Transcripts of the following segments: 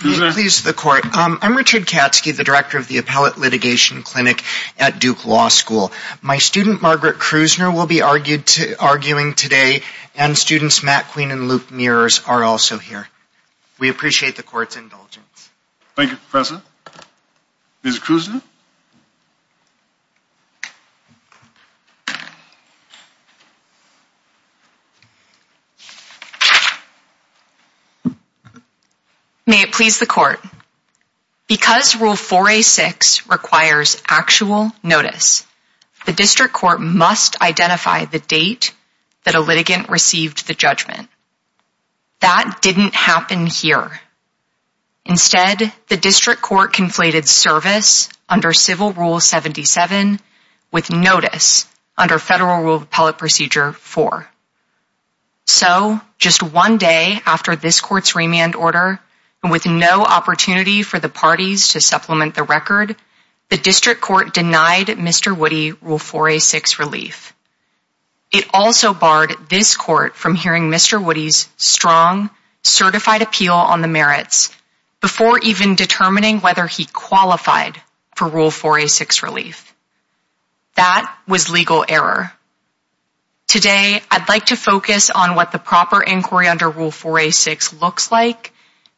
I'm Richard Katzke, the director of the Appellate Litigation Clinic at Duke Law School. My student Margaret Krusner will be arguing today, and students Matt Queen and Luke Mears are also here. We appreciate the court's indulgence. Thank you, Professor. Ms. Krusner? May it please the court. Because Rule 4A.6 requires actual notice, the district court must identify the date that a litigant received the judgment. That didn't happen here. Instead, the district court conflated service under Civil Rule 77 with notice under Federal Rule of Appellate Procedure 4. So just one day after this court's remand order, and with no opportunity for the parties to supplement the record, the district court denied Mr. Woody Rule 4A.6 relief. It also barred this court from hearing Mr. Woody's strong, certified appeal on the merits before even determining whether he qualified for Rule 4A.6 relief. That was legal error. Today I'd like to focus on what the proper inquiry under Rule 4A.6 looks like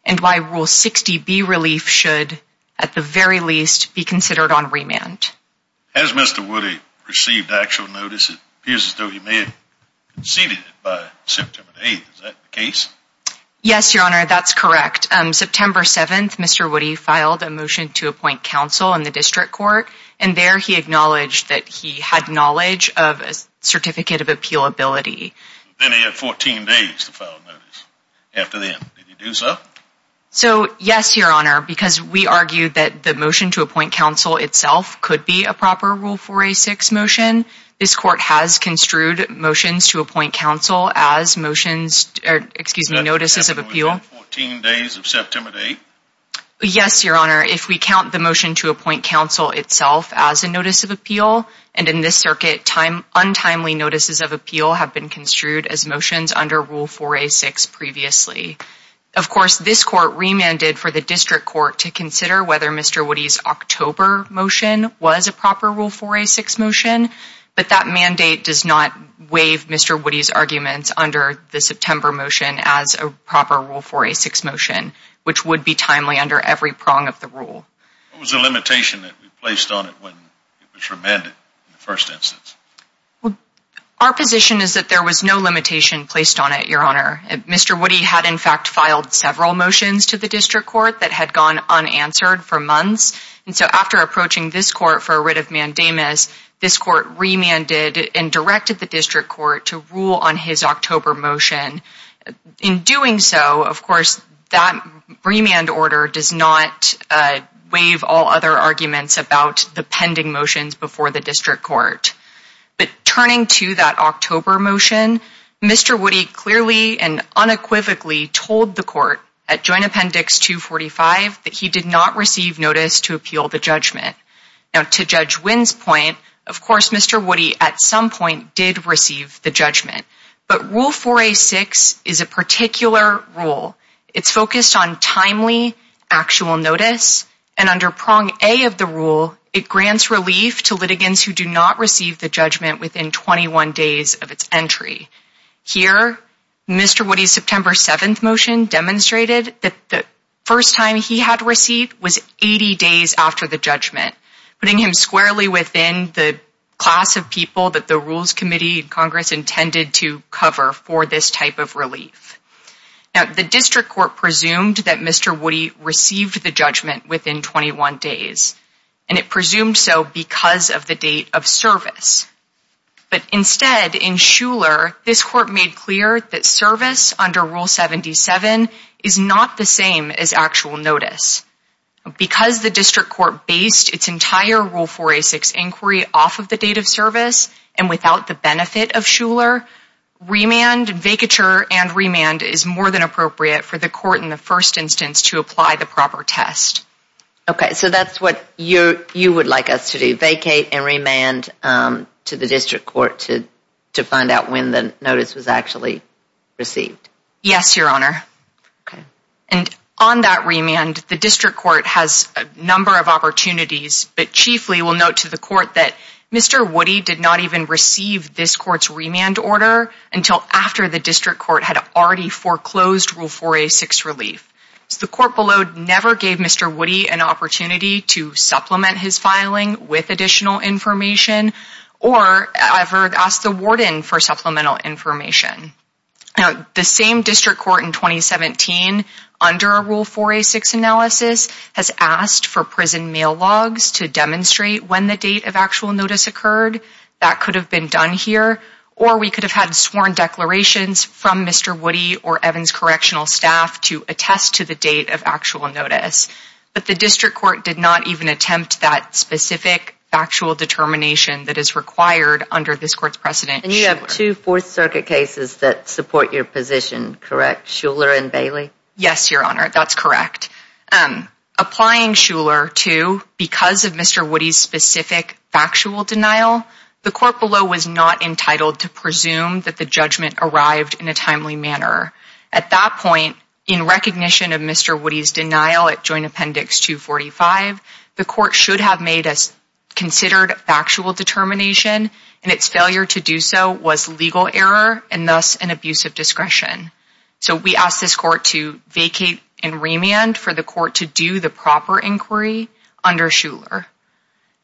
and why Rule 60B relief should, at the very least, be considered on remand. Has Mr. Woody received actual notice? It appears as though he may have conceded it by September 8th. Is that the case? Yes, Your Honor, that's correct. September 7th, Mr. Woody filed a motion to appoint counsel in the district court, and there he acknowledged that he had knowledge of a certificate of appealability. Then he had 14 days to file a notice. After then, did he do so? So, yes, Your Honor, because we argue that the motion to appoint counsel itself could be a proper Rule 4A.6 motion, this court has construed motions to appoint counsel as motions or, excuse me, notices of appeal. Within 14 days of September 8th? Yes, Your Honor, if we count the motion to appoint counsel itself as a notice of appeal, and in this circuit, untimely notices of appeal have been construed as motions under Rule 4A.6 previously. Of course, this court remanded for the district court to consider whether Mr. Woody's October motion was a proper Rule 4A.6 motion, but that mandate does not waive Mr. Woody's arguments under the September motion as a proper Rule 4A.6 motion, which would be timely under every prong of the rule. What was the limitation that we placed on it when it was remanded in the first instance? Our position is that there was no limitation placed on it, Your Honor. Mr. Woody had, in fact, filed several motions to the district court that had gone unanswered for months, and so after approaching this court for a writ of mandamus, this court remanded and directed the district court to rule on his October motion. In doing so, of course, that remand order does not waive all other arguments about the pending motions before the district court, but turning to that October motion, Mr. Woody clearly and unequivocally told the court at Joint Appendix 245 that he did not receive notice to appeal the judgment. Now, to Judge Wynn's point, of course, Mr. Woody at some point did receive the judgment, but Rule 4A.6 is a particular rule. It's focused on timely, actual notice, and under prong A of the rule, it grants relief to litigants who do not receive the judgment within 21 days of its entry. Here, Mr. Woody's September 7th motion demonstrated that the first time he had received was 80 days after the judgment, putting him squarely within the class of people that the Rules Committee and Congress intended to cover for this type of relief. Now, the district court presumed that Mr. Woody received the judgment within 21 days, and it presumed so because of the date of service. But instead, in Shuler, this court made clear that service under Rule 77 is not the same as actual notice. Because the district court based its entire Rule 4A.6 inquiry off of the date of service and without the benefit of Shuler, remand, vacature, and remand is more than appropriate for the court in the first instance to apply the proper test. Okay. So that's what you would like us to do, vacate and remand to the district court to find out when the notice was actually received? Yes, Your Honor. Okay. And on that remand, the district court has a number of opportunities, but chiefly, we'll note to the court that Mr. Woody did not even receive this court's remand order until after the district court had already foreclosed Rule 4A.6 relief. The court below never gave Mr. Woody an opportunity to supplement his filing with additional information or ever asked the warden for supplemental information. The same district court in 2017, under a Rule 4A.6 analysis, has asked for prison mail logs to demonstrate when the date of actual notice occurred. That could have been done here, or we could have had sworn declarations from Mr. Woody or Evan's correctional staff to attest to the date of actual notice, but the district court did not even attempt that specific factual determination that is required under this court's precedent. And you have two Fourth Circuit cases that support your position, correct? Shuler and Bailey? Yes, Your Honor. That's correct. Applying Shuler to, because of Mr. Woody's specific factual denial, the court below was not entitled to presume that the judgment arrived in a timely manner. At that point, in recognition of Mr. Woody's denial at Joint Appendix 245, the court should have made a considered factual determination, and its failure to do so was legal error and thus an abuse of discretion. So we asked this court to vacate and remand for the court to do the proper inquiry under Shuler.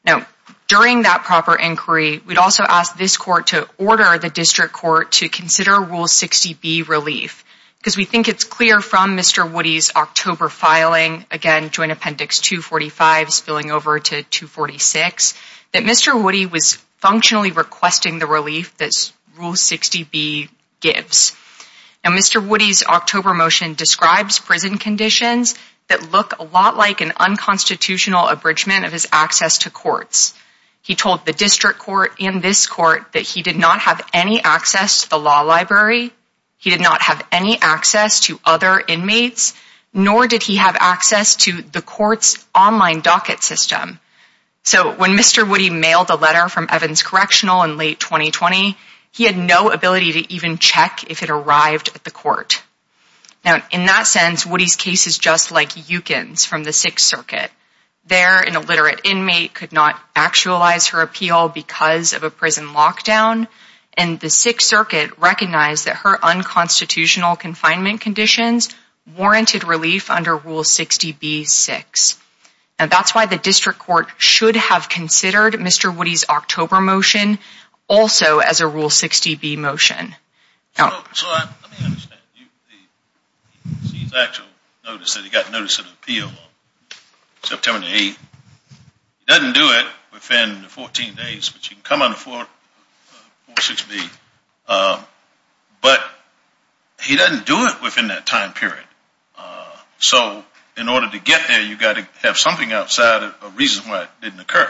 Now, during that proper inquiry, we'd also ask this court to order the district court to consider Rule 60B relief, because we think it's clear from Mr. Woody's October filing, again, Joint Appendix 245 spilling over to 246, that Mr. Woody was functionally requesting the relief that Rule 60B gives. Now, Mr. Woody's October motion describes prison conditions that look a lot like an unconstitutional abridgment of his access to courts. He told the district court and this court that he did not have any access to the law library, he did not have any access to other inmates, nor did he have access to the court's online docket system. So when Mr. Woody mailed a letter from Evans Correctional in late 2020, he had no ability to even check if it arrived at the court. Now, in that sense, Woody's case is just like Yukon's from the Sixth Circuit. There, an illiterate inmate could not actualize her appeal because of a prison lockdown, and the Sixth Circuit recognized that her unconstitutional confinement conditions warranted relief under Rule 60B-6. And that's why the district court should have considered Mr. Woody's October motion also as a Rule 60B motion. So let me understand. You've seen his actual notice that he got notice of appeal on September the 8th. He doesn't do it within the 14 days, but you can come on to 46B. But he doesn't do it within that time period. So in order to get there, you've got to have something outside of a reason why it didn't occur.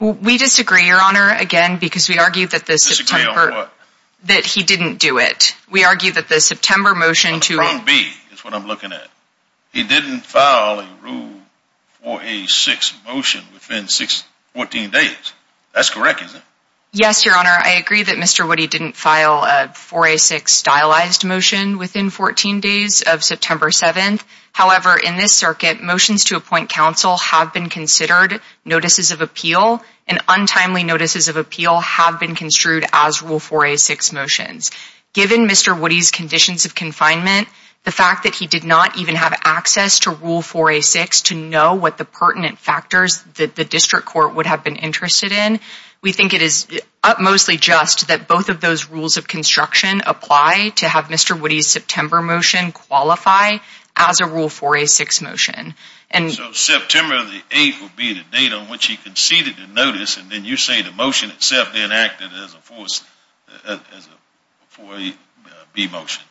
We disagree, Your Honor, again, because we argue that the September— That he didn't do it. We argue that the September motion to— On 4B is what I'm looking at. He didn't file a Rule 4A-6 motion within 14 days. That's correct, isn't it? Yes, Your Honor, I agree that Mr. Woody didn't file a 4A-6 stylized motion within 14 days of September 7th. However, in this circuit, motions to appoint counsel have been considered notices of appeal, and untimely notices of appeal have been construed as Rule 4A-6 motions. Given Mr. Woody's conditions of confinement, the fact that he did not even have access to Rule 4A-6 to know what the pertinent factors that the district court would have been interested in, we think it is upmostly just that both of those rules of construction apply to have Mr. Woody's September motion qualify as a Rule 4A-6 motion. So September the 8th would be the date on which he conceded the notice, and then you say the motion itself enacted as a 4A-B motion?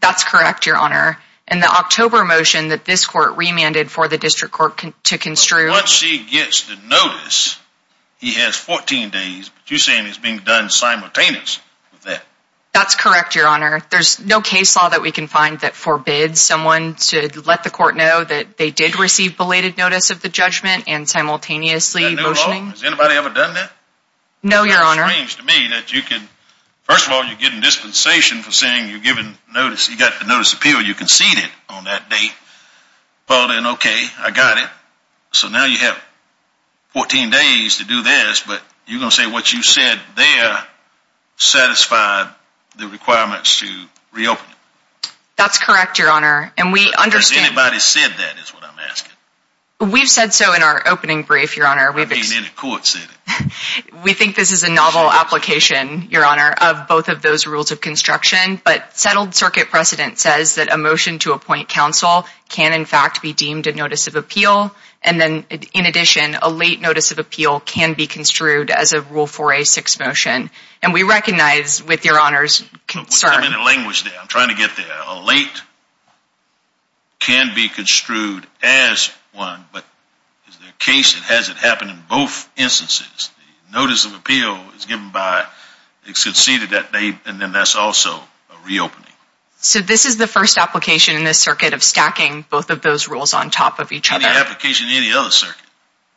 That's correct, Your Honor. And the October motion that this court remanded for the district court to construe— But once he gets the notice, he has 14 days, but you're saying it's being done simultaneously with that? That's correct, Your Honor. There's no case law that we can find that forbids someone to let the court know that they did receive belated notice of the judgment and simultaneously motioning— Has anybody ever done that? No, Your Honor. It's strange to me that you can—first of all, you're getting dispensation for saying you're giving notice—you got the notice of appeal, you conceded on that date. Well, then, okay, I got it. So now you have 14 days to do this, but you're going to say what you said there satisfied the requirements to reopen it? That's correct, Your Honor. And we understand— That's what I'm asking. We've said so in our opening brief, Your Honor. I've been in a court setting. We think this is a novel application, Your Honor, of both of those rules of construction. But settled circuit precedent says that a motion to appoint counsel can, in fact, be deemed a notice of appeal. And then, in addition, a late notice of appeal can be construed as a Rule 4a6 motion. And we recognize, with Your Honor's concern— Don't put them in a language there. I'm trying to get there. A late can be construed as one, but is there a case that has it happen in both instances? The notice of appeal is given by—it's conceded that date, and then that's also a reopening. So this is the first application in this circuit of stacking both of those rules on top of each other. Any application in any other circuit?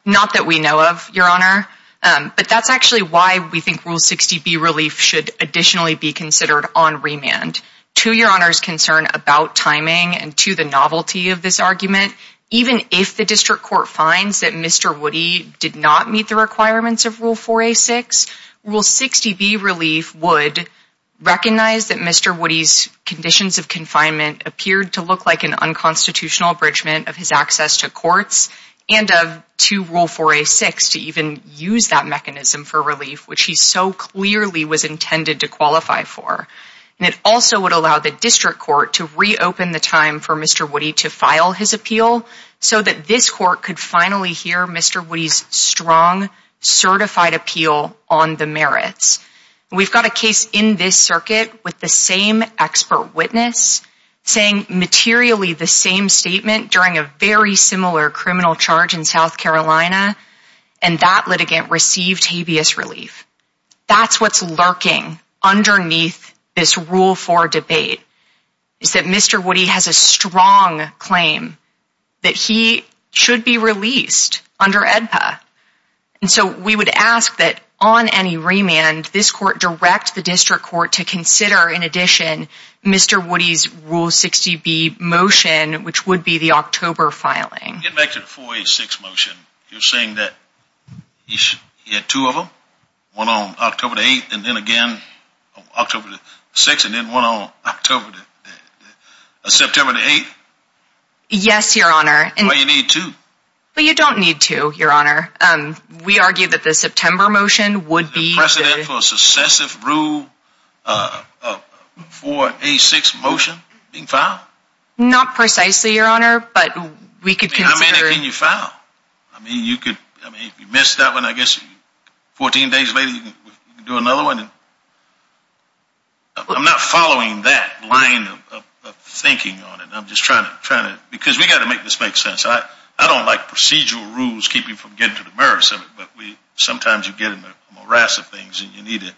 Not that we know of, Your Honor. But that's actually why we think Rule 60b, Relief, should additionally be considered on remand. To Your Honor's concern about timing and to the novelty of this argument, even if the District Court finds that Mr. Woody did not meet the requirements of Rule 4a6, Rule 60b, Relief, would recognize that Mr. Woody's conditions of confinement appeared to look like an unconstitutional abridgment of his access to courts and to Rule 4a6 to even use that mechanism for relief, which he so clearly was intended to qualify for. And it also would allow the District Court to reopen the time for Mr. Woody to file his appeal so that this Court could finally hear Mr. Woody's strong, certified appeal on the merits. We've got a case in this circuit with the same expert witness saying materially the same statement during a very similar criminal charge in South Carolina, and that litigant received habeas relief. That's what's lurking underneath this Rule 4 debate, is that Mr. Woody has a strong claim that he should be released under AEDPA. And so we would ask that on any remand, this Court direct the District Court to consider in addition Mr. Woody's Rule 60b motion, which would be the October filing. Getting back to the 4a6 motion, you're saying that he had two of them? One on October the 8th, and then again October the 6th, and then one on September the 8th? Yes, Your Honor. Why do you need two? Well, you don't need two, Your Honor. We argue that the September motion would be... The precedent for a successive Rule 4a6 motion being filed? Not precisely, Your Honor, but we could consider... I mean, how many can you file? I mean, you could... I mean, if you missed that one, I guess 14 days later you can do another one. I'm not following that line of thinking on it. I'm just trying to... Because we've got to make this make sense. I don't like procedural rules keeping from getting to the merits of it, but sometimes you get into a morass of things and you need to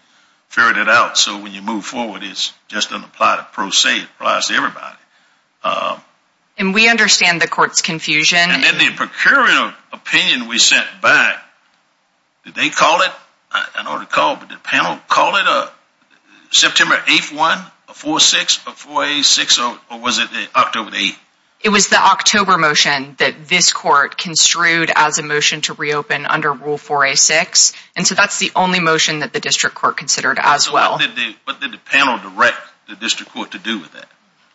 ferret it out so when you move forward just doesn't apply to pro se. It applies to everybody. And we understand the court's confusion. And then the procuratorial opinion we sent back, did they call it? I don't recall, but did the panel call it September 8th, 1, 4, 6, or 4a6, or was it October the 8th? It was the October motion that this court construed as a motion to reopen under Rule 4a6, and so that's the only motion that the district court considered as well. What did the panel direct the district court to do with that?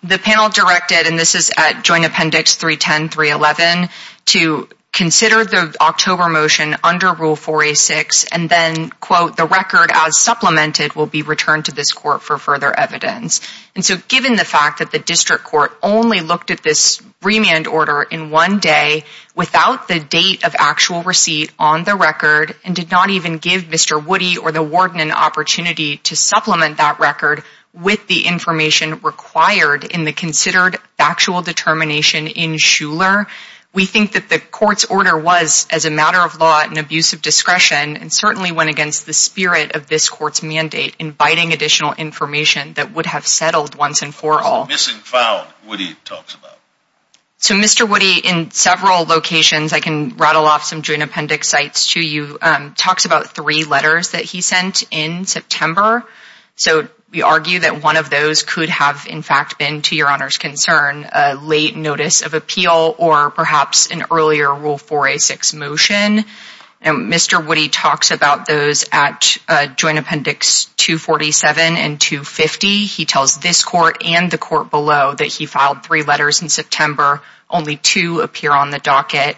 The panel directed, and this is at Joint Appendix 310, 311, to consider the October motion under Rule 4a6 and then, quote, the record as supplemented will be returned to this court for further evidence. And so given the fact that the district court only looked at this remand order in one day without the date of actual receipt on the record and did not even give Mr. Woody or Mr. Woody to supplement that record with the information required in the considered factual determination in Shuler, we think that the court's order was, as a matter of law, an abuse of discretion and certainly went against the spirit of this court's mandate, inviting additional information that would have settled once and for all. So missing, found, Woody talks about. So Mr. Woody, in several locations, I can rattle off some Joint Appendix sites to you, talks about three letters that he sent in September. So we argue that one of those could have, in fact, been, to your Honor's concern, a late notice of appeal or perhaps an earlier Rule 4a6 motion. And Mr. Woody talks about those at Joint Appendix 247 and 250. He tells this court and the court below that he filed three letters in September, only two appear on the docket.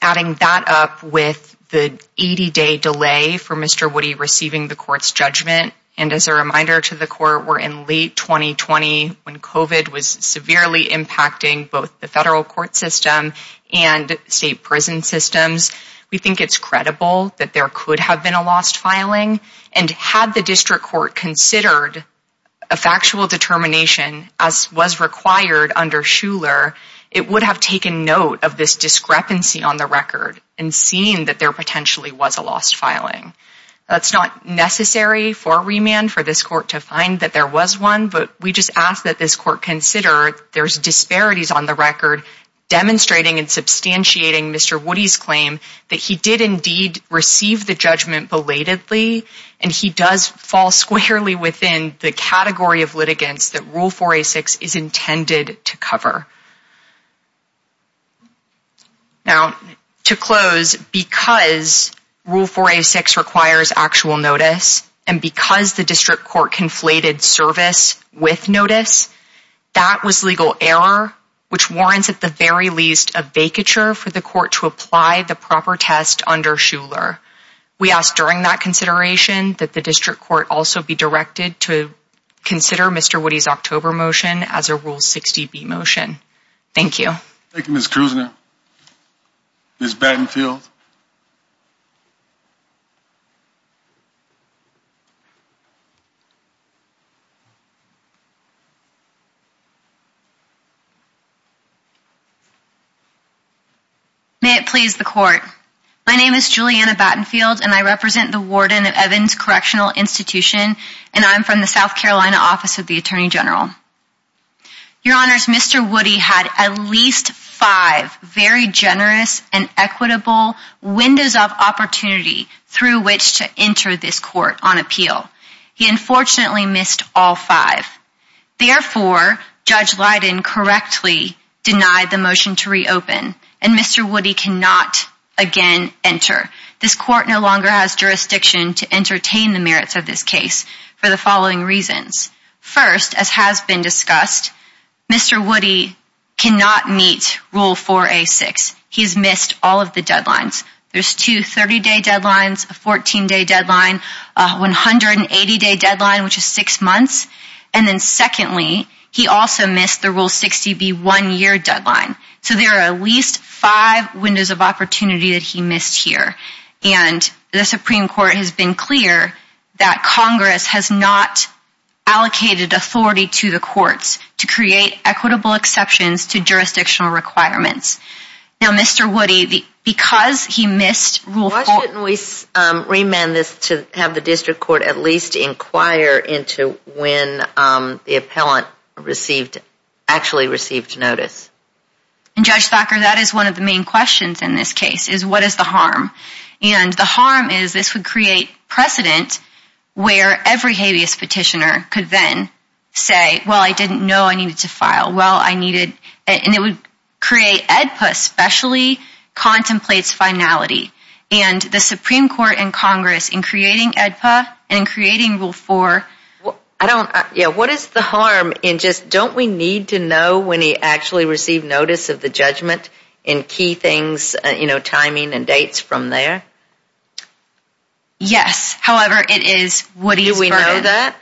Adding that up with the 80-day delay for Mr. Woody receiving the court's judgment. And as a reminder to the court, we're in late 2020, when COVID was severely impacting both the federal court system and state prison systems. We think it's credible that there could have been a lost filing. And had the district court considered a factual determination, as was required under Shuler, it would have taken note of this discrepancy on the record and seen that there potentially was a lost filing. That's not necessary for remand, for this court to find that there was one. But we just ask that this court consider there's disparities on the record, demonstrating and substantiating Mr. Woody's claim that he did indeed receive the judgment belatedly. And he does fall squarely within the category of litigants that Rule 4a6 is intended to cover. Now, to close, because Rule 4a6 requires actual notice, and because the district court conflated service with notice, that was legal error, which warrants at the very least a vacature for the court to apply the proper test under Shuler. We ask during that consideration that the district court also be directed to consider Mr. Woody's October motion as a Rule 60b motion. Thank you. Thank you, Ms. Kruzner. Ms. Battenfield. May it please the court. My name is Juliana Battenfield, and I represent the warden of Evans Correctional Institution, and I'm from the South Carolina Office of the Attorney General. Your Honors, Mr. Woody had at least five very generous and equitable windows of opportunity through which to enter this court on appeal. He unfortunately missed all five. Therefore, Judge Leiden correctly denied the motion to reopen, and Mr. Woody cannot again enter. This court no longer has jurisdiction to entertain the merits of this case for the following reasons. First, as has been discussed, Mr. Woody cannot meet Rule 4a-6. He's missed all of the deadlines. There's two 30-day deadlines, a 14-day deadline, a 180-day deadline, which is six months. And then secondly, he also missed the Rule 60b one-year deadline. So there are at least five windows of opportunity that he missed here. And the Supreme Court has been clear that Congress has not allocated authority to the courts to create equitable exceptions to jurisdictional requirements. Now, Mr. Woody, because he missed Rule 4a- Why shouldn't we remand this to have the District Court at least inquire into when the appellant actually received notice? And Judge Thacker, that is one of the main questions in this case, is what is the harm? And the harm is this would create precedent where every habeas petitioner could then say, well, I didn't know I needed to file. Well, I needed- And it would create AEDPA, especially contemplates finality. And the Supreme Court and Congress, in creating AEDPA and in creating Rule 4- I don't- Yeah, what is the harm in just don't we need to know when he actually received notice of the judgment in key things, you know, timing and dates from there? Yes. However, it is Woody's- Do we know that?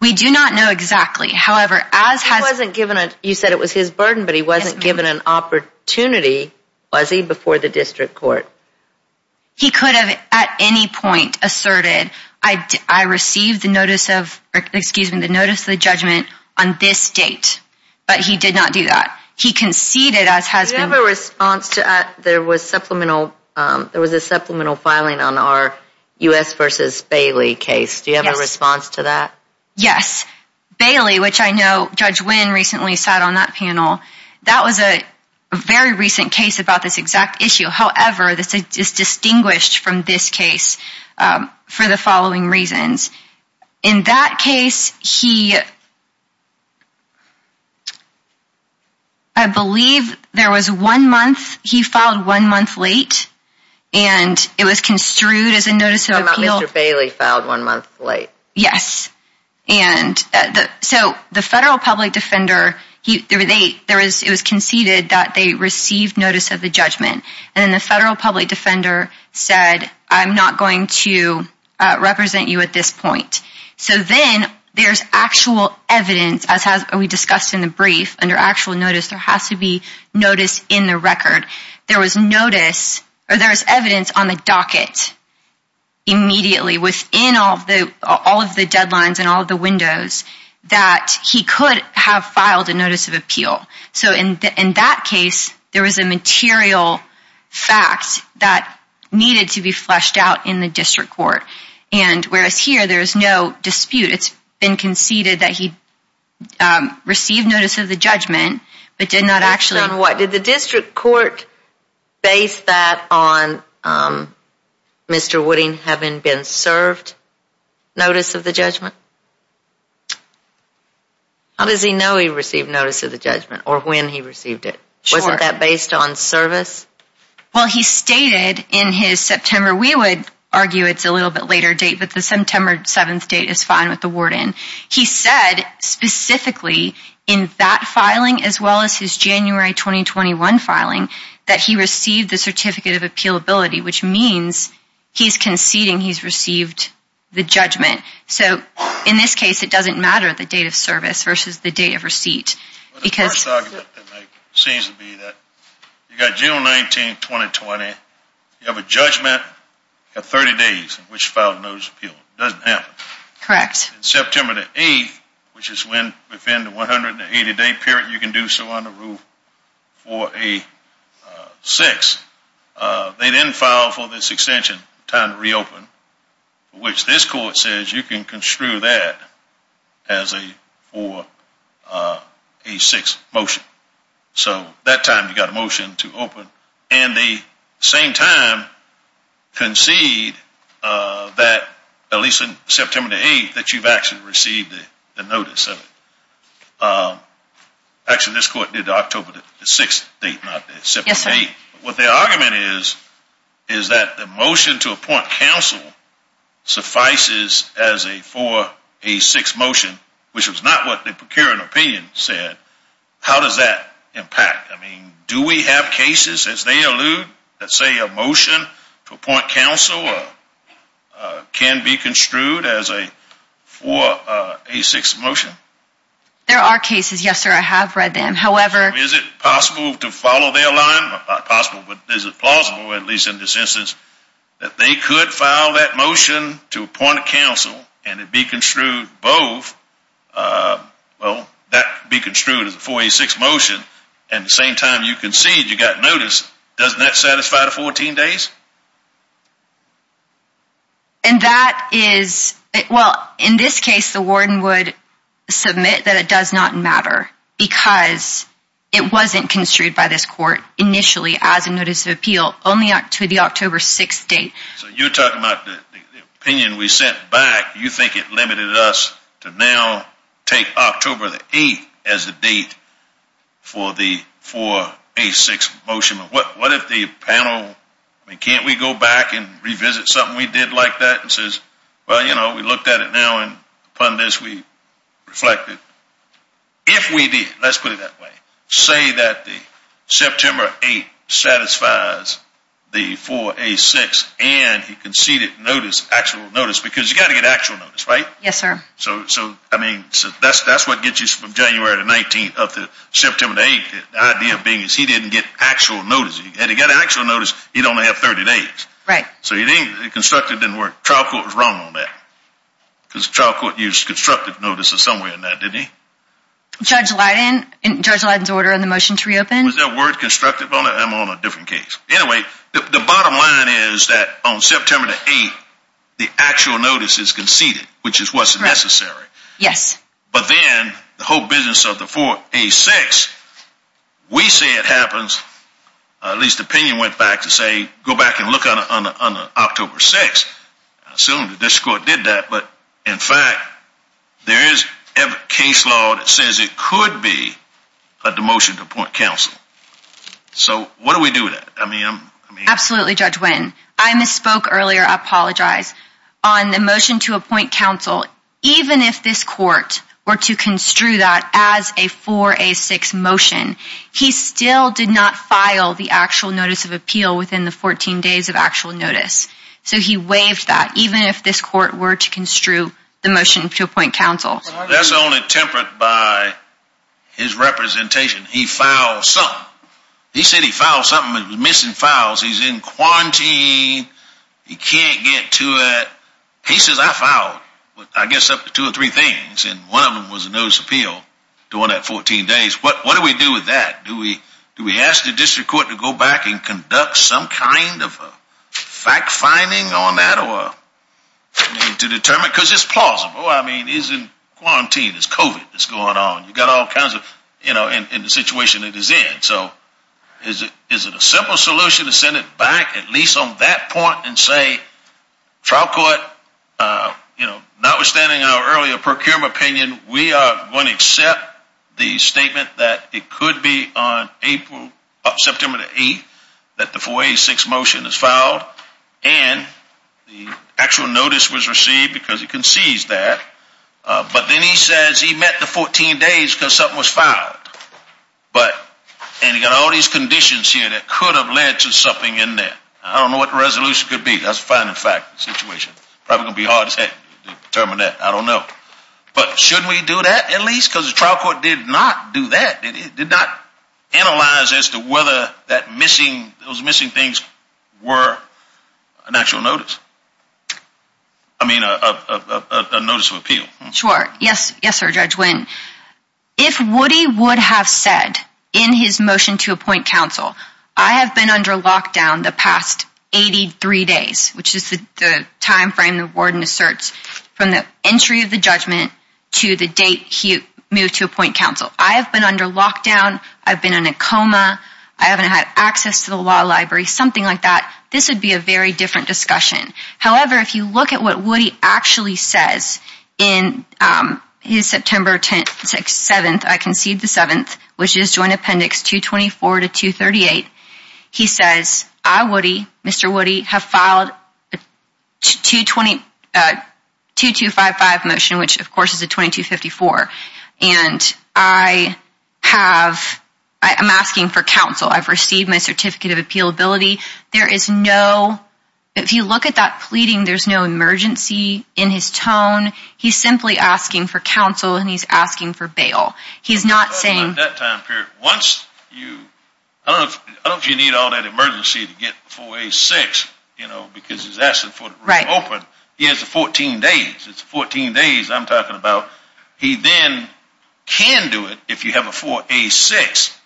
We do not know exactly. However, as has- He wasn't given- You said it was his burden, but he wasn't given an opportunity, was he, before the District Court? He could have at any point asserted, I received the notice of- excuse me, the notice of the he conceded as has been- Do you have a response to- There was supplemental- There was a supplemental filing on our U.S. versus Bailey case. Do you have a response to that? Yes. Bailey, which I know Judge Wynn recently sat on that panel, that was a very recent case about this exact issue. However, this is distinguished from this case for the following reasons. In that case, he- I believe there was one month, he filed one month late and it was construed as a notice of appeal- Mr. Bailey filed one month late. Yes. And so the federal public defender, it was conceded that they received notice of the So then there's actual evidence, as we discussed in the brief, under actual notice, there has to be notice in the record. There was notice or there was evidence on the docket immediately within all of the deadlines and all of the windows that he could have filed a notice of appeal. So in that case, there was a material fact that needed to be fleshed out in the District Court. And whereas here, there's no dispute. It's been conceded that he received notice of the judgment, but did not actually- Based on what? Did the District Court base that on Mr. Wooding having been served notice of the judgment? How does he know he received notice of the judgment or when he received it? Wasn't that based on service? Well, he stated in his September, we would argue it's a little bit later date, but the September 7th date is fine with the warden. He said specifically in that filing, as well as his January 2021 filing, that he received the certificate of appealability, which means he's conceding he's received the judgment. So in this case, it doesn't matter the date of service versus the date of receipt. The first argument they make seems to be that you got June 19, 2020. You have a judgment at 30 days, which filed a notice of appeal. It doesn't happen. Correct. In September 8th, which is when within the 180-day period, you can do so under Rule 4A-6, they didn't file for this extension, time to reopen, which this court says you can construe that as a 4A-6 motion. So that time, you got a motion to open. And the same time, concede that at least in September 8th, that you've actually received the notice of it. Actually, this court did October 6th date, not September 8th. What the argument is, is that the motion to appoint counsel suffices as a 4A-6 motion, which is not what the procuring opinion said. How does that impact? I mean, do we have cases, as they allude, that say a motion to appoint counsel can be construed as a 4A-6 motion? There are cases. Yes, sir. I have read them. Is it possible to follow their line? Not possible, but is it plausible, at least in this instance, that they could file that motion to appoint counsel and it be construed both? Well, that be construed as a 4A-6 motion, and the same time you concede you got notice. Doesn't that satisfy the 14 days? And that is, well, in this case, the warden would submit that it does not matter. Because it wasn't construed by this court initially as a notice of appeal, only to the October 6th date. So you're talking about the opinion we sent back, you think it limited us to now take October the 8th as the date for the 4A-6 motion. But what if the panel, I mean, can't we go back and revisit something we did like that? And says, well, you know, we looked at it now, and upon this, we reflected. If we did, let's put it that way. Say that the September 8th satisfies the 4A-6, and he conceded notice, actual notice. Because you got to get actual notice, right? Yes, sir. So, I mean, that's what gets you from January the 19th up to September the 8th. The idea being is he didn't get actual notice. Had he got actual notice, he'd only have 30 days. Right. So he didn't, constructed didn't work. Trial court was wrong on that. Because trial court used constructive notices somewhere in that, didn't he? Judge Leiden, Judge Leiden's order on the motion to reopen. Was that word constructive on it? I'm on a different case. Anyway, the bottom line is that on September the 8th, the actual notice is conceded, which is what's necessary. Yes. But then the whole business of the 4A-6, we say it happens, at least opinion went back to say, go back and look on October 6th. Assume that this court did that. But in fact, there is a case law that says it could be a demotion to appoint counsel. So what do we do with that? I mean, I'm. Absolutely, Judge Witten. I misspoke earlier. I apologize on the motion to appoint counsel. Even if this court were to construe that as a 4A-6 motion, he still did not file the actual notice of appeal within the 14 days of actual notice. So he waived that even if this court were to construe the motion to appoint counsel. That's only tempered by his representation. He filed something. He said he filed something. It was missing files. He's in quarantine. He can't get to it. He says, I filed, I guess, up to two or three things. And one of them was a notice of appeal during that 14 days. What do we do with that? Do we ask the district court to go back and conduct some kind of fact-finding on that? Or to determine? Because it's plausible. I mean, he's in quarantine. It's COVID that's going on. You've got all kinds of, you know, in the situation it is in. So is it a simple solution to send it back at least on that point and say, trial court, notwithstanding our earlier procurement opinion, we are going to accept the statement that it could be on September the 8th that the 486 motion is filed. And the actual notice was received because he concedes that. But then he says he met the 14 days because something was filed. And you've got all these conditions here that could have led to something in there. I don't know what the resolution could be. That's a fact-finding situation. Probably going to be hard to determine that. I don't know. But shouldn't we do that at least? Because the trial court did not do that. It did not analyze as to whether those missing things were an actual notice. I mean, a notice of appeal. Sure. Yes, sir, Judge Wynn. If Woody would have said in his motion to appoint counsel, I have been under lockdown the past 83 days, which is the time frame the warden asserts from the entry of the judgment to the date he moved to appoint counsel. I have been under lockdown. I've been in a coma. I haven't had access to the law library, something like that. This would be a very different discussion. However, if you look at what Woody actually says in his September 7th, I concede the 7th, which is Joint Appendix 224 to 238. He says, I, Woody, Mr. Woody, have filed a 2255 motion, which of course is a 2254. And I have, I'm asking for counsel. I've received my certificate of appealability. There is no, if you look at that pleading, there's no emergency in his tone. He's simply asking for counsel and he's asking for bail. He's not saying... I don't think you need all that emergency to get 4A6, you know, because he's asking for the room open. He has 14 days. It's 14 days I'm talking about. He then can do it if you have a 4A6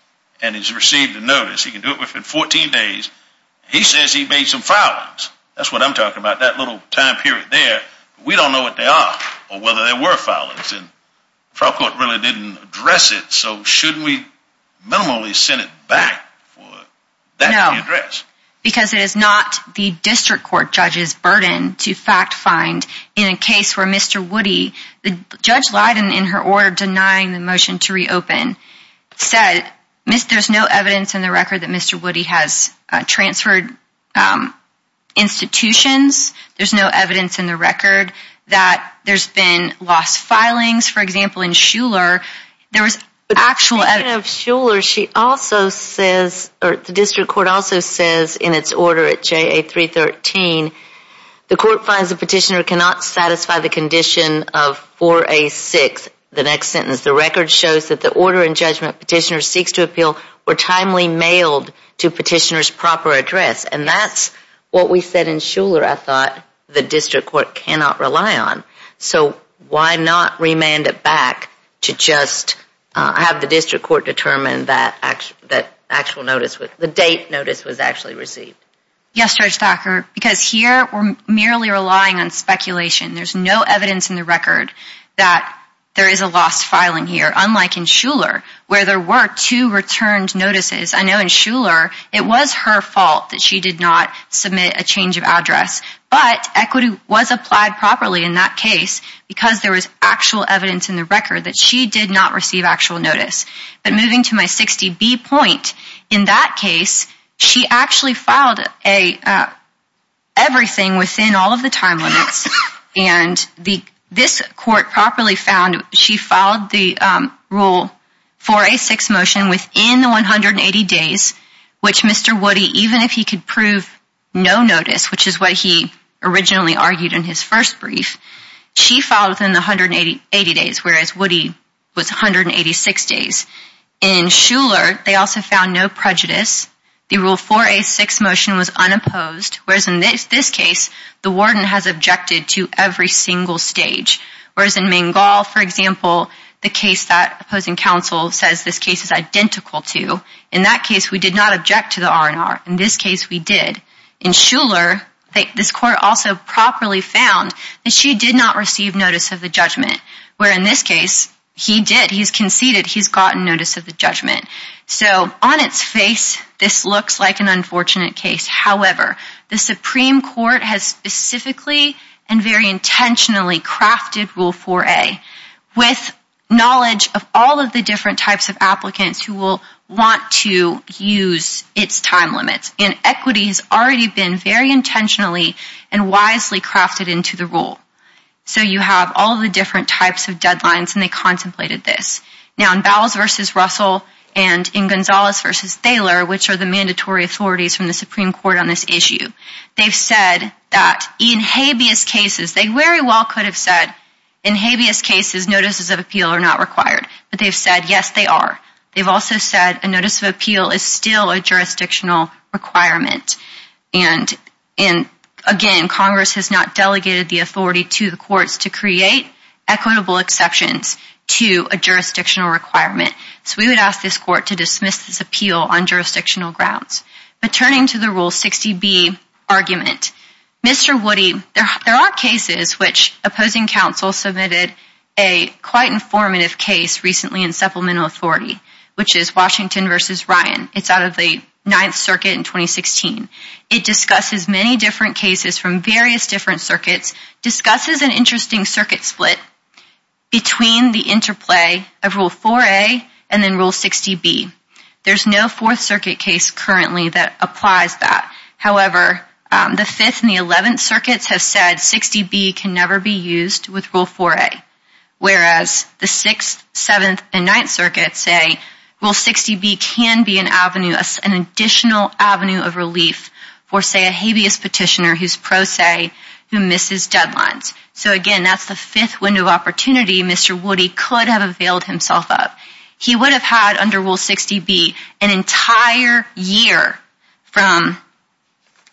and he's received a notice. He can do it within 14 days. He says he made some filings. That's what I'm talking about, that little time period there. We don't know what they are or whether they were filings. And the trial court really didn't address it. Shouldn't we minimally send it back for that to be addressed? Because it is not the district court judge's burden to fact find in a case where Mr. Woody, the Judge Leiden in her order denying the motion to reopen, said there's no evidence in the record that Mr. Woody has transferred institutions. There's no evidence in the record that there's been lost filings. For example, in Shuler, there was actual evidence. In Shuler, the district court also says in its order at JA 313, the court finds the petitioner cannot satisfy the condition of 4A6, the next sentence. The record shows that the order and judgment petitioner seeks to appeal were timely mailed to petitioner's proper address. And that's what we said in Shuler, I thought, the district court cannot rely on. So why not remand it back to just have the district court determine that actual notice, the date notice was actually received? Yes, Judge Thacker, because here we're merely relying on speculation. There's no evidence in the record that there is a lost filing here, unlike in Shuler, where there were two returned notices. I know in Shuler, it was her fault that she did not submit a change of address. But equity was applied properly in that case, because there was actual evidence in the record that she did not receive actual notice. But moving to my 60B point, in that case, she actually filed everything within all of the time limits. And this court properly found she filed the rule 4A6 motion within the 180 days, which Mr. Woody, even if he could prove no notice, which is what he originally argued in his first brief, she filed within the 180 days, whereas Woody was 186 days. In Shuler, they also found no prejudice. The rule 4A6 motion was unopposed, whereas in this case, the warden has objected to every single stage. Whereas in Mangal, for example, the case that opposing counsel says this case is identical to, in that case, we did not object to the R&R. In this case, we did. In Shuler, this court also properly found that she did not receive notice of the judgment, where in this case, he did. He's conceded. He's gotten notice of the judgment. So on its face, this looks like an unfortunate case. However, the Supreme Court has specifically and very intentionally crafted rule 4A with knowledge of all of the different types of applicants who will want to use its time limits. And equity has already been very intentionally and wisely crafted into the rule. So you have all the different types of deadlines, and they contemplated this. Now, in Bowles v. Russell and in Gonzalez v. Thaler, which are the mandatory authorities from the Supreme Court on this issue, they've said that in habeas cases, they very well could have said, in habeas cases, notices of appeal are not required. But they've said, yes, they are. They've also said a notice of appeal is still a jurisdictional requirement. And again, Congress has not delegated the authority to the courts to create equitable exceptions to a jurisdictional requirement. So we would ask this court to dismiss this appeal on jurisdictional grounds. But turning to the Rule 60B argument, Mr. Woody, there are cases which opposing counsel submitted a quite informative case recently in Supplemental Authority, which is Washington v. Ryan. It's out of the Ninth Circuit in 2016. It discusses many different cases from various different circuits, discusses an interesting circuit split between the interplay of Rule 4A and then Rule 60B. There's no Fourth Circuit case currently that applies that. However, the Fifth and the Eleventh Circuits have said 60B can never be used with Rule 4A. Whereas the Sixth, Seventh, and Ninth Circuits say Rule 60B can be an avenue, an additional avenue of relief for, say, a habeas petitioner who's pro se, who misses deadlines. So again, that's the fifth window of opportunity Mr. Woody could have availed himself of. He would have had, under Rule 60B, an entire year from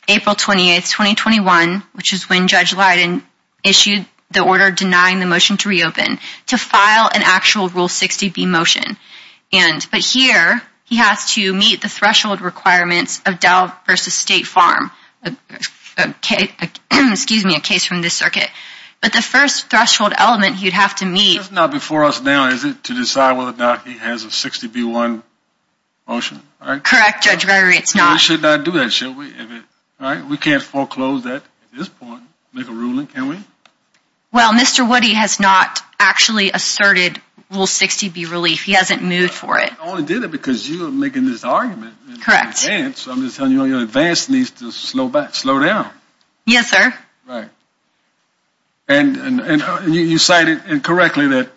April 28, 2021, which is when Judge Leiden issued the order denying the motion to reopen, to file an actual Rule 60B motion. But here, he has to meet the threshold requirements of Dow v. State Farm, excuse me, a case from this circuit. But the first threshold element he'd have to meet... He has a 60B-1 motion, right? Correct, Judge Berry. It's not... We should not do that, should we? We can't foreclose that at this point, make a ruling, can we? Well, Mr. Woody has not actually asserted Rule 60B relief. He hasn't moved for it. I only did it because you're making this argument. Correct. So I'm just telling you, your advance needs to slow back, slow down. Yes, sir. Right. You cited incorrectly that,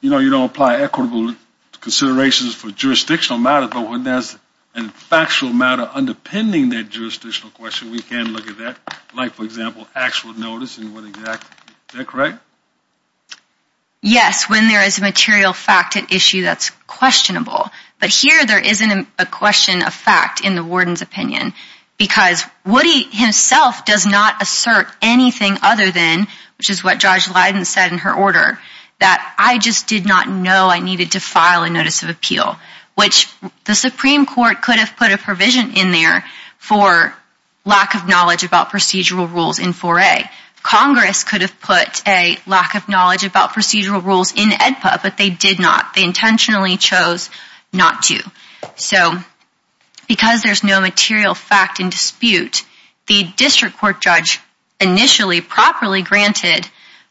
you know, you don't apply equitable considerations for jurisdictional matters, but when there's a factual matter underpinning that jurisdictional question, we can look at that, like, for example, actual notice and what exactly... Is that correct? Yes, when there is a material fact at issue that's questionable. But here, there isn't a question of fact in the warden's opinion, because Woody himself does not assert anything other than, which is what Judge Leiden said in her order, that I just did not know I needed to file a notice of appeal, which the Supreme Court could have put a provision in there for lack of knowledge about procedural rules in 4A. Congress could have put a lack of knowledge about procedural rules in AEDPA, but they did not. They intentionally chose not to. So because there's no material fact in dispute, the district court judge initially properly granted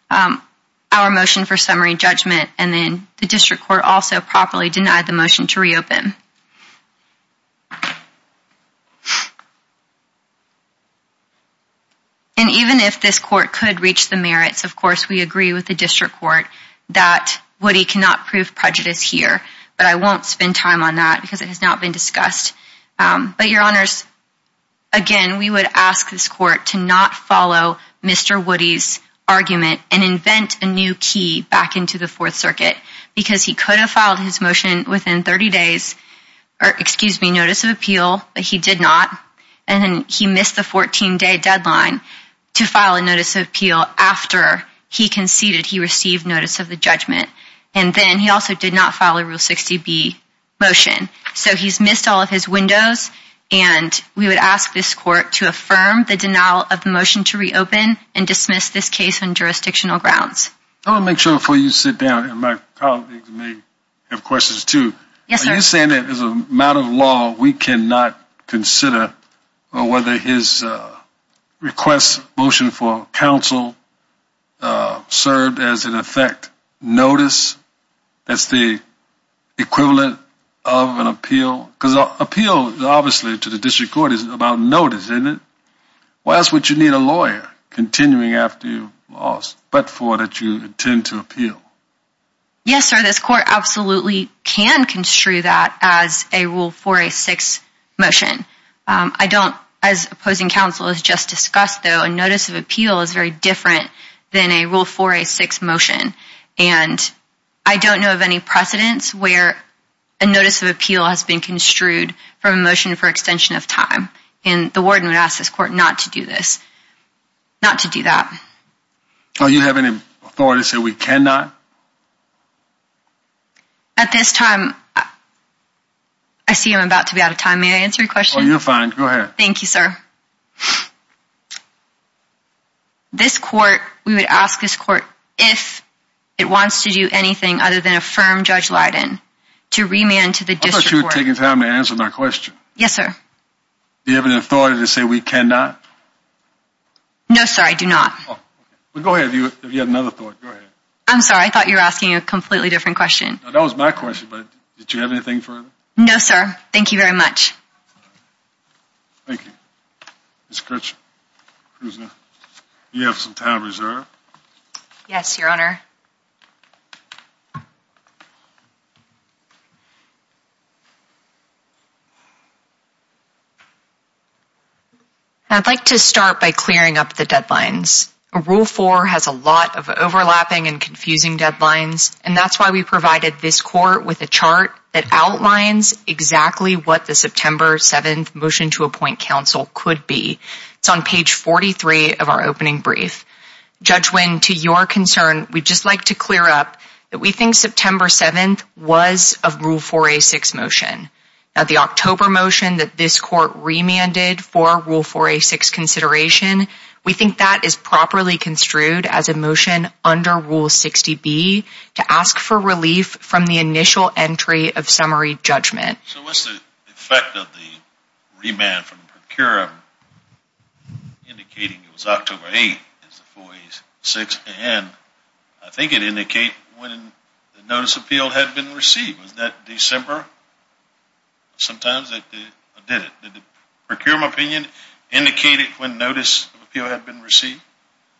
our motion for summary judgment, and then the district court also properly denied the motion to reopen. And even if this court could reach the merits, of course, we agree with the district court that Woody cannot prove prejudice here, but I won't spend time on that because it has not been discussed. But your honors, again, we would ask this court to not follow Mr. Woody's argument and invent a new key back into the Fourth Circuit, because he could have filed his motion within 30 days, or excuse me, notice of appeal, but he did not. And then he missed the 14-day deadline to file a notice of appeal after he conceded he received notice of the judgment. And then he also did not file a Rule 60B motion. So he's missed all of his windows, and we would ask this court to affirm the denial of the motion to reopen and dismiss this case on jurisdictional grounds. I want to make sure before you sit down, and my colleagues may have questions too. Are you saying that as a matter of law, we cannot consider whether his request motion for counsel served as an effect notice? That's the equivalent of an appeal? Because appeal, obviously, to the district court is about notice, isn't it? Why else would you need a lawyer continuing after you've lost, but for that you intend to appeal? Yes, sir, this court absolutely can construe that as a Rule 406 motion. I don't, as opposing counsel has just discussed though, a notice of appeal is very different than a Rule 406 motion. And I don't know of any precedents where a notice of appeal has been construed from a motion for extension of time. And the warden would ask this court not to do this, not to do that. Do you have any authority to say we cannot? At this time, I see I'm about to be out of time. May I answer your question? You're fine, go ahead. Thank you, sir. This court, we would ask this court if it wants to do anything other than affirm Judge Lydon to remand to the district court. I thought you were taking time to answer my question. Yes, sir. Do you have any authority to say we cannot? No, sir, I do not. Well, go ahead, if you have another thought, go ahead. I'm sorry, I thought you were asking a completely different question. That was my question, but did you have anything further? No, sir, thank you very much. Thank you, Ms. Kirchner. Ms. Kirchner, do you have some time reserved? Yes, your honor. I'd like to start by clearing up the deadlines. Rule 4 has a lot of overlapping and confusing deadlines, and that's why we provided this court with a chart that outlines exactly what the September 7th Motion to Appoint Counsel could be. It's on page 43 of our opening brief. Judge Wynn, to your concern, we'd just like to clear up that we think September 7th was a Rule 4a6 motion. Now, the October motion that this court remanded for Rule 4a6 consideration, we think that is properly construed as a motion under Rule 60B to ask for relief from the initial entry of summary judgment. So what's the effect of the remand from Procurum indicating it was October 8th as the 4a6? And I think it indicated when the notice of appeal had been received. Was that December? Sometimes that did it. Did the Procurum opinion indicate it when notice of appeal had been received?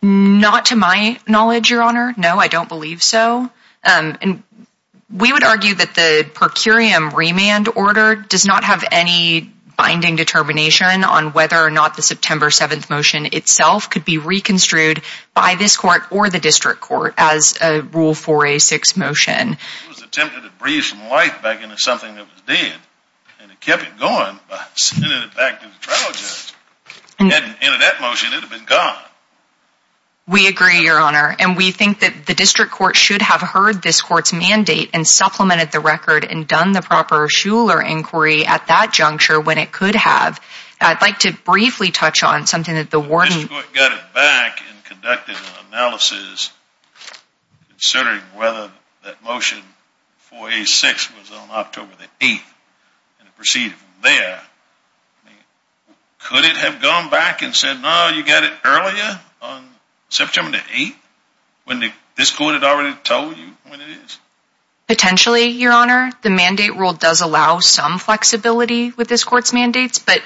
Not to my knowledge, your honor. No, I don't believe so. And we would argue that the Procurum remand order does not have any binding determination on whether or not the September 7th motion itself could be reconstrued by this court or the district court as a Rule 4a6 motion. It was attempted to breathe some life back into something that was dead and it kept it going by sending it back to the trial judge. And in that motion, it would have been gone. We agree, your honor. And we think that the district court should have heard this court's mandate and supplemented the record and done the proper Shuler inquiry at that juncture when it could have. I'd like to briefly touch on something that the warden... The district court got it back and conducted an analysis considering whether that motion 4a6 was on October the 8th and it proceeded from there. Could it have gone back and said, no, you got it earlier on September the 8th when this court had already told you when it is? Potentially, your honor. The mandate rule does allow some flexibility with this court's mandates. But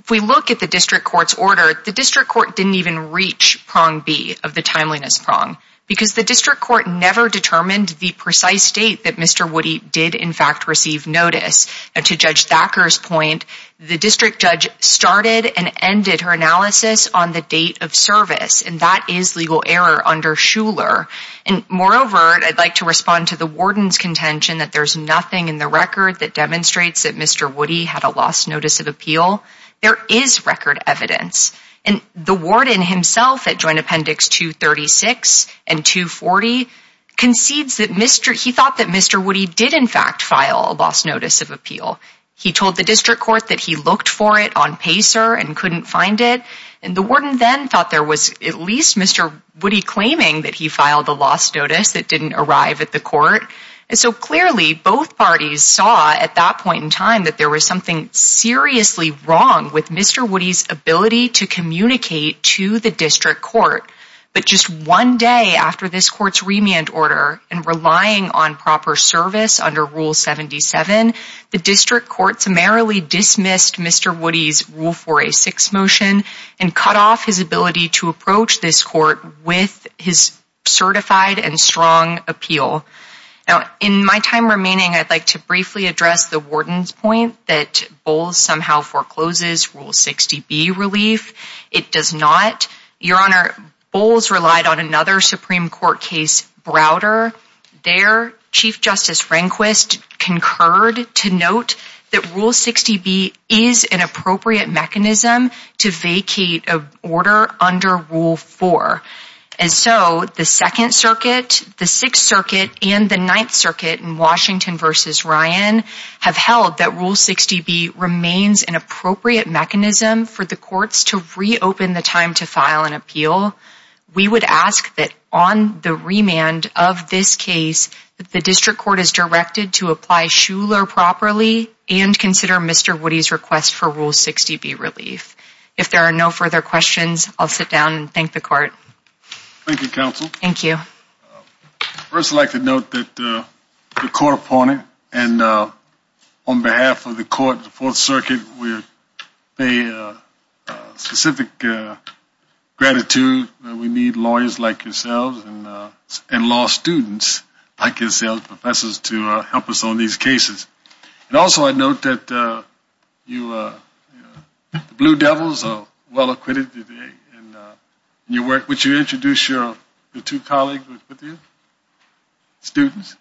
if we look at the district court's order, the district court didn't even reach prong B of the timeliness prong because the district court never determined the precise date that Mr. Woody did in fact receive notice. And to Judge Thacker's point, the district judge started and ended her analysis on the date of service and that is legal error under Shuler. And moreover, I'd like to respond to the warden's contention that there's nothing in the record that demonstrates that Mr. Woody had a lost notice of appeal. There is record evidence. And the warden himself at Joint Appendix 236 and 240 concedes that he thought that Mr. Woody did in fact file a lost notice of appeal. He told the district court that he looked for it on Pacer and couldn't find it. And the warden then thought there was at least Mr. Woody claiming that he filed a lost notice that didn't arrive at the court. And so clearly, both parties saw at that point in time that there was something seriously wrong with Mr. Woody's ability to communicate to the district court. But just one day after this court's remand order and relying on proper service under Rule 77, the district court summarily dismissed Mr. Woody's Rule 486 motion and cut off his ability to approach this court with his certified and strong appeal. Now, in my time remaining, I'd like to briefly address the warden's point that Bowles somehow forecloses Rule 60B relief. It does not. Your Honor, Bowles relied on another Supreme Court case, Browder. Their Chief Justice Rehnquist concurred to note that Rule 60B is an appropriate mechanism to vacate a order under Rule 4. And so the Second Circuit, the Sixth Circuit, and the Ninth Circuit in Washington v. Ryan have held that Rule 60B remains an appropriate mechanism for the courts to reopen the time to file an appeal. We would ask that on the remand of this case that the district court is directed to apply Shuler properly and consider Mr. Woody's request for Rule 60B relief. If there are no further questions, I'll sit down and thank the court. Thank you, counsel. Thank you. First, I'd like to note that the court opponent and on behalf of the court in the Fourth Circuit would pay specific gratitude. We need lawyers like yourselves and law students like yourselves, professors, to help us on these cases. And also, I'd note that the Blue Devils are well acquitted today in your work. Would you introduce your two colleagues with you, students?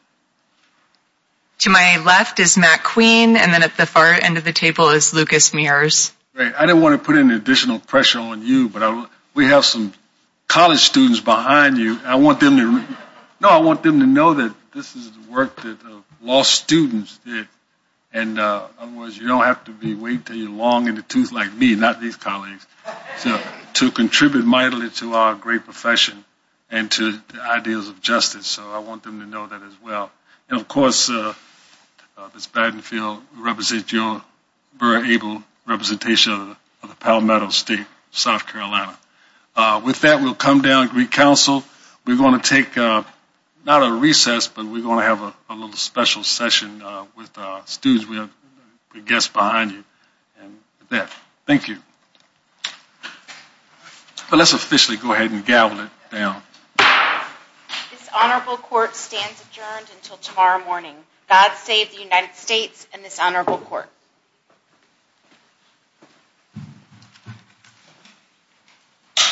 To my left is Matt Queen, and then at the far end of the table is Lucas Mears. I didn't want to put any additional pressure on you, but we have some college students behind you. No, I want them to know that this is the work that law students did. And otherwise, you don't have to wait until you're long in the tooth like me, not these colleagues, to contribute mightily to our great profession and to the ideas of justice. So I want them to know that as well. And of course, Ms. Battenfield, you represent your very able representation of the Palmetto State, South Carolina. With that, we'll come down and re-counsel. We're going to take not a recess, but we're going to have a little special session with our students. We have a guest behind you. And with that, thank you. Let's officially go ahead and gavel it down. This honorable court stands adjourned until tomorrow morning. God save the United States and this honorable court.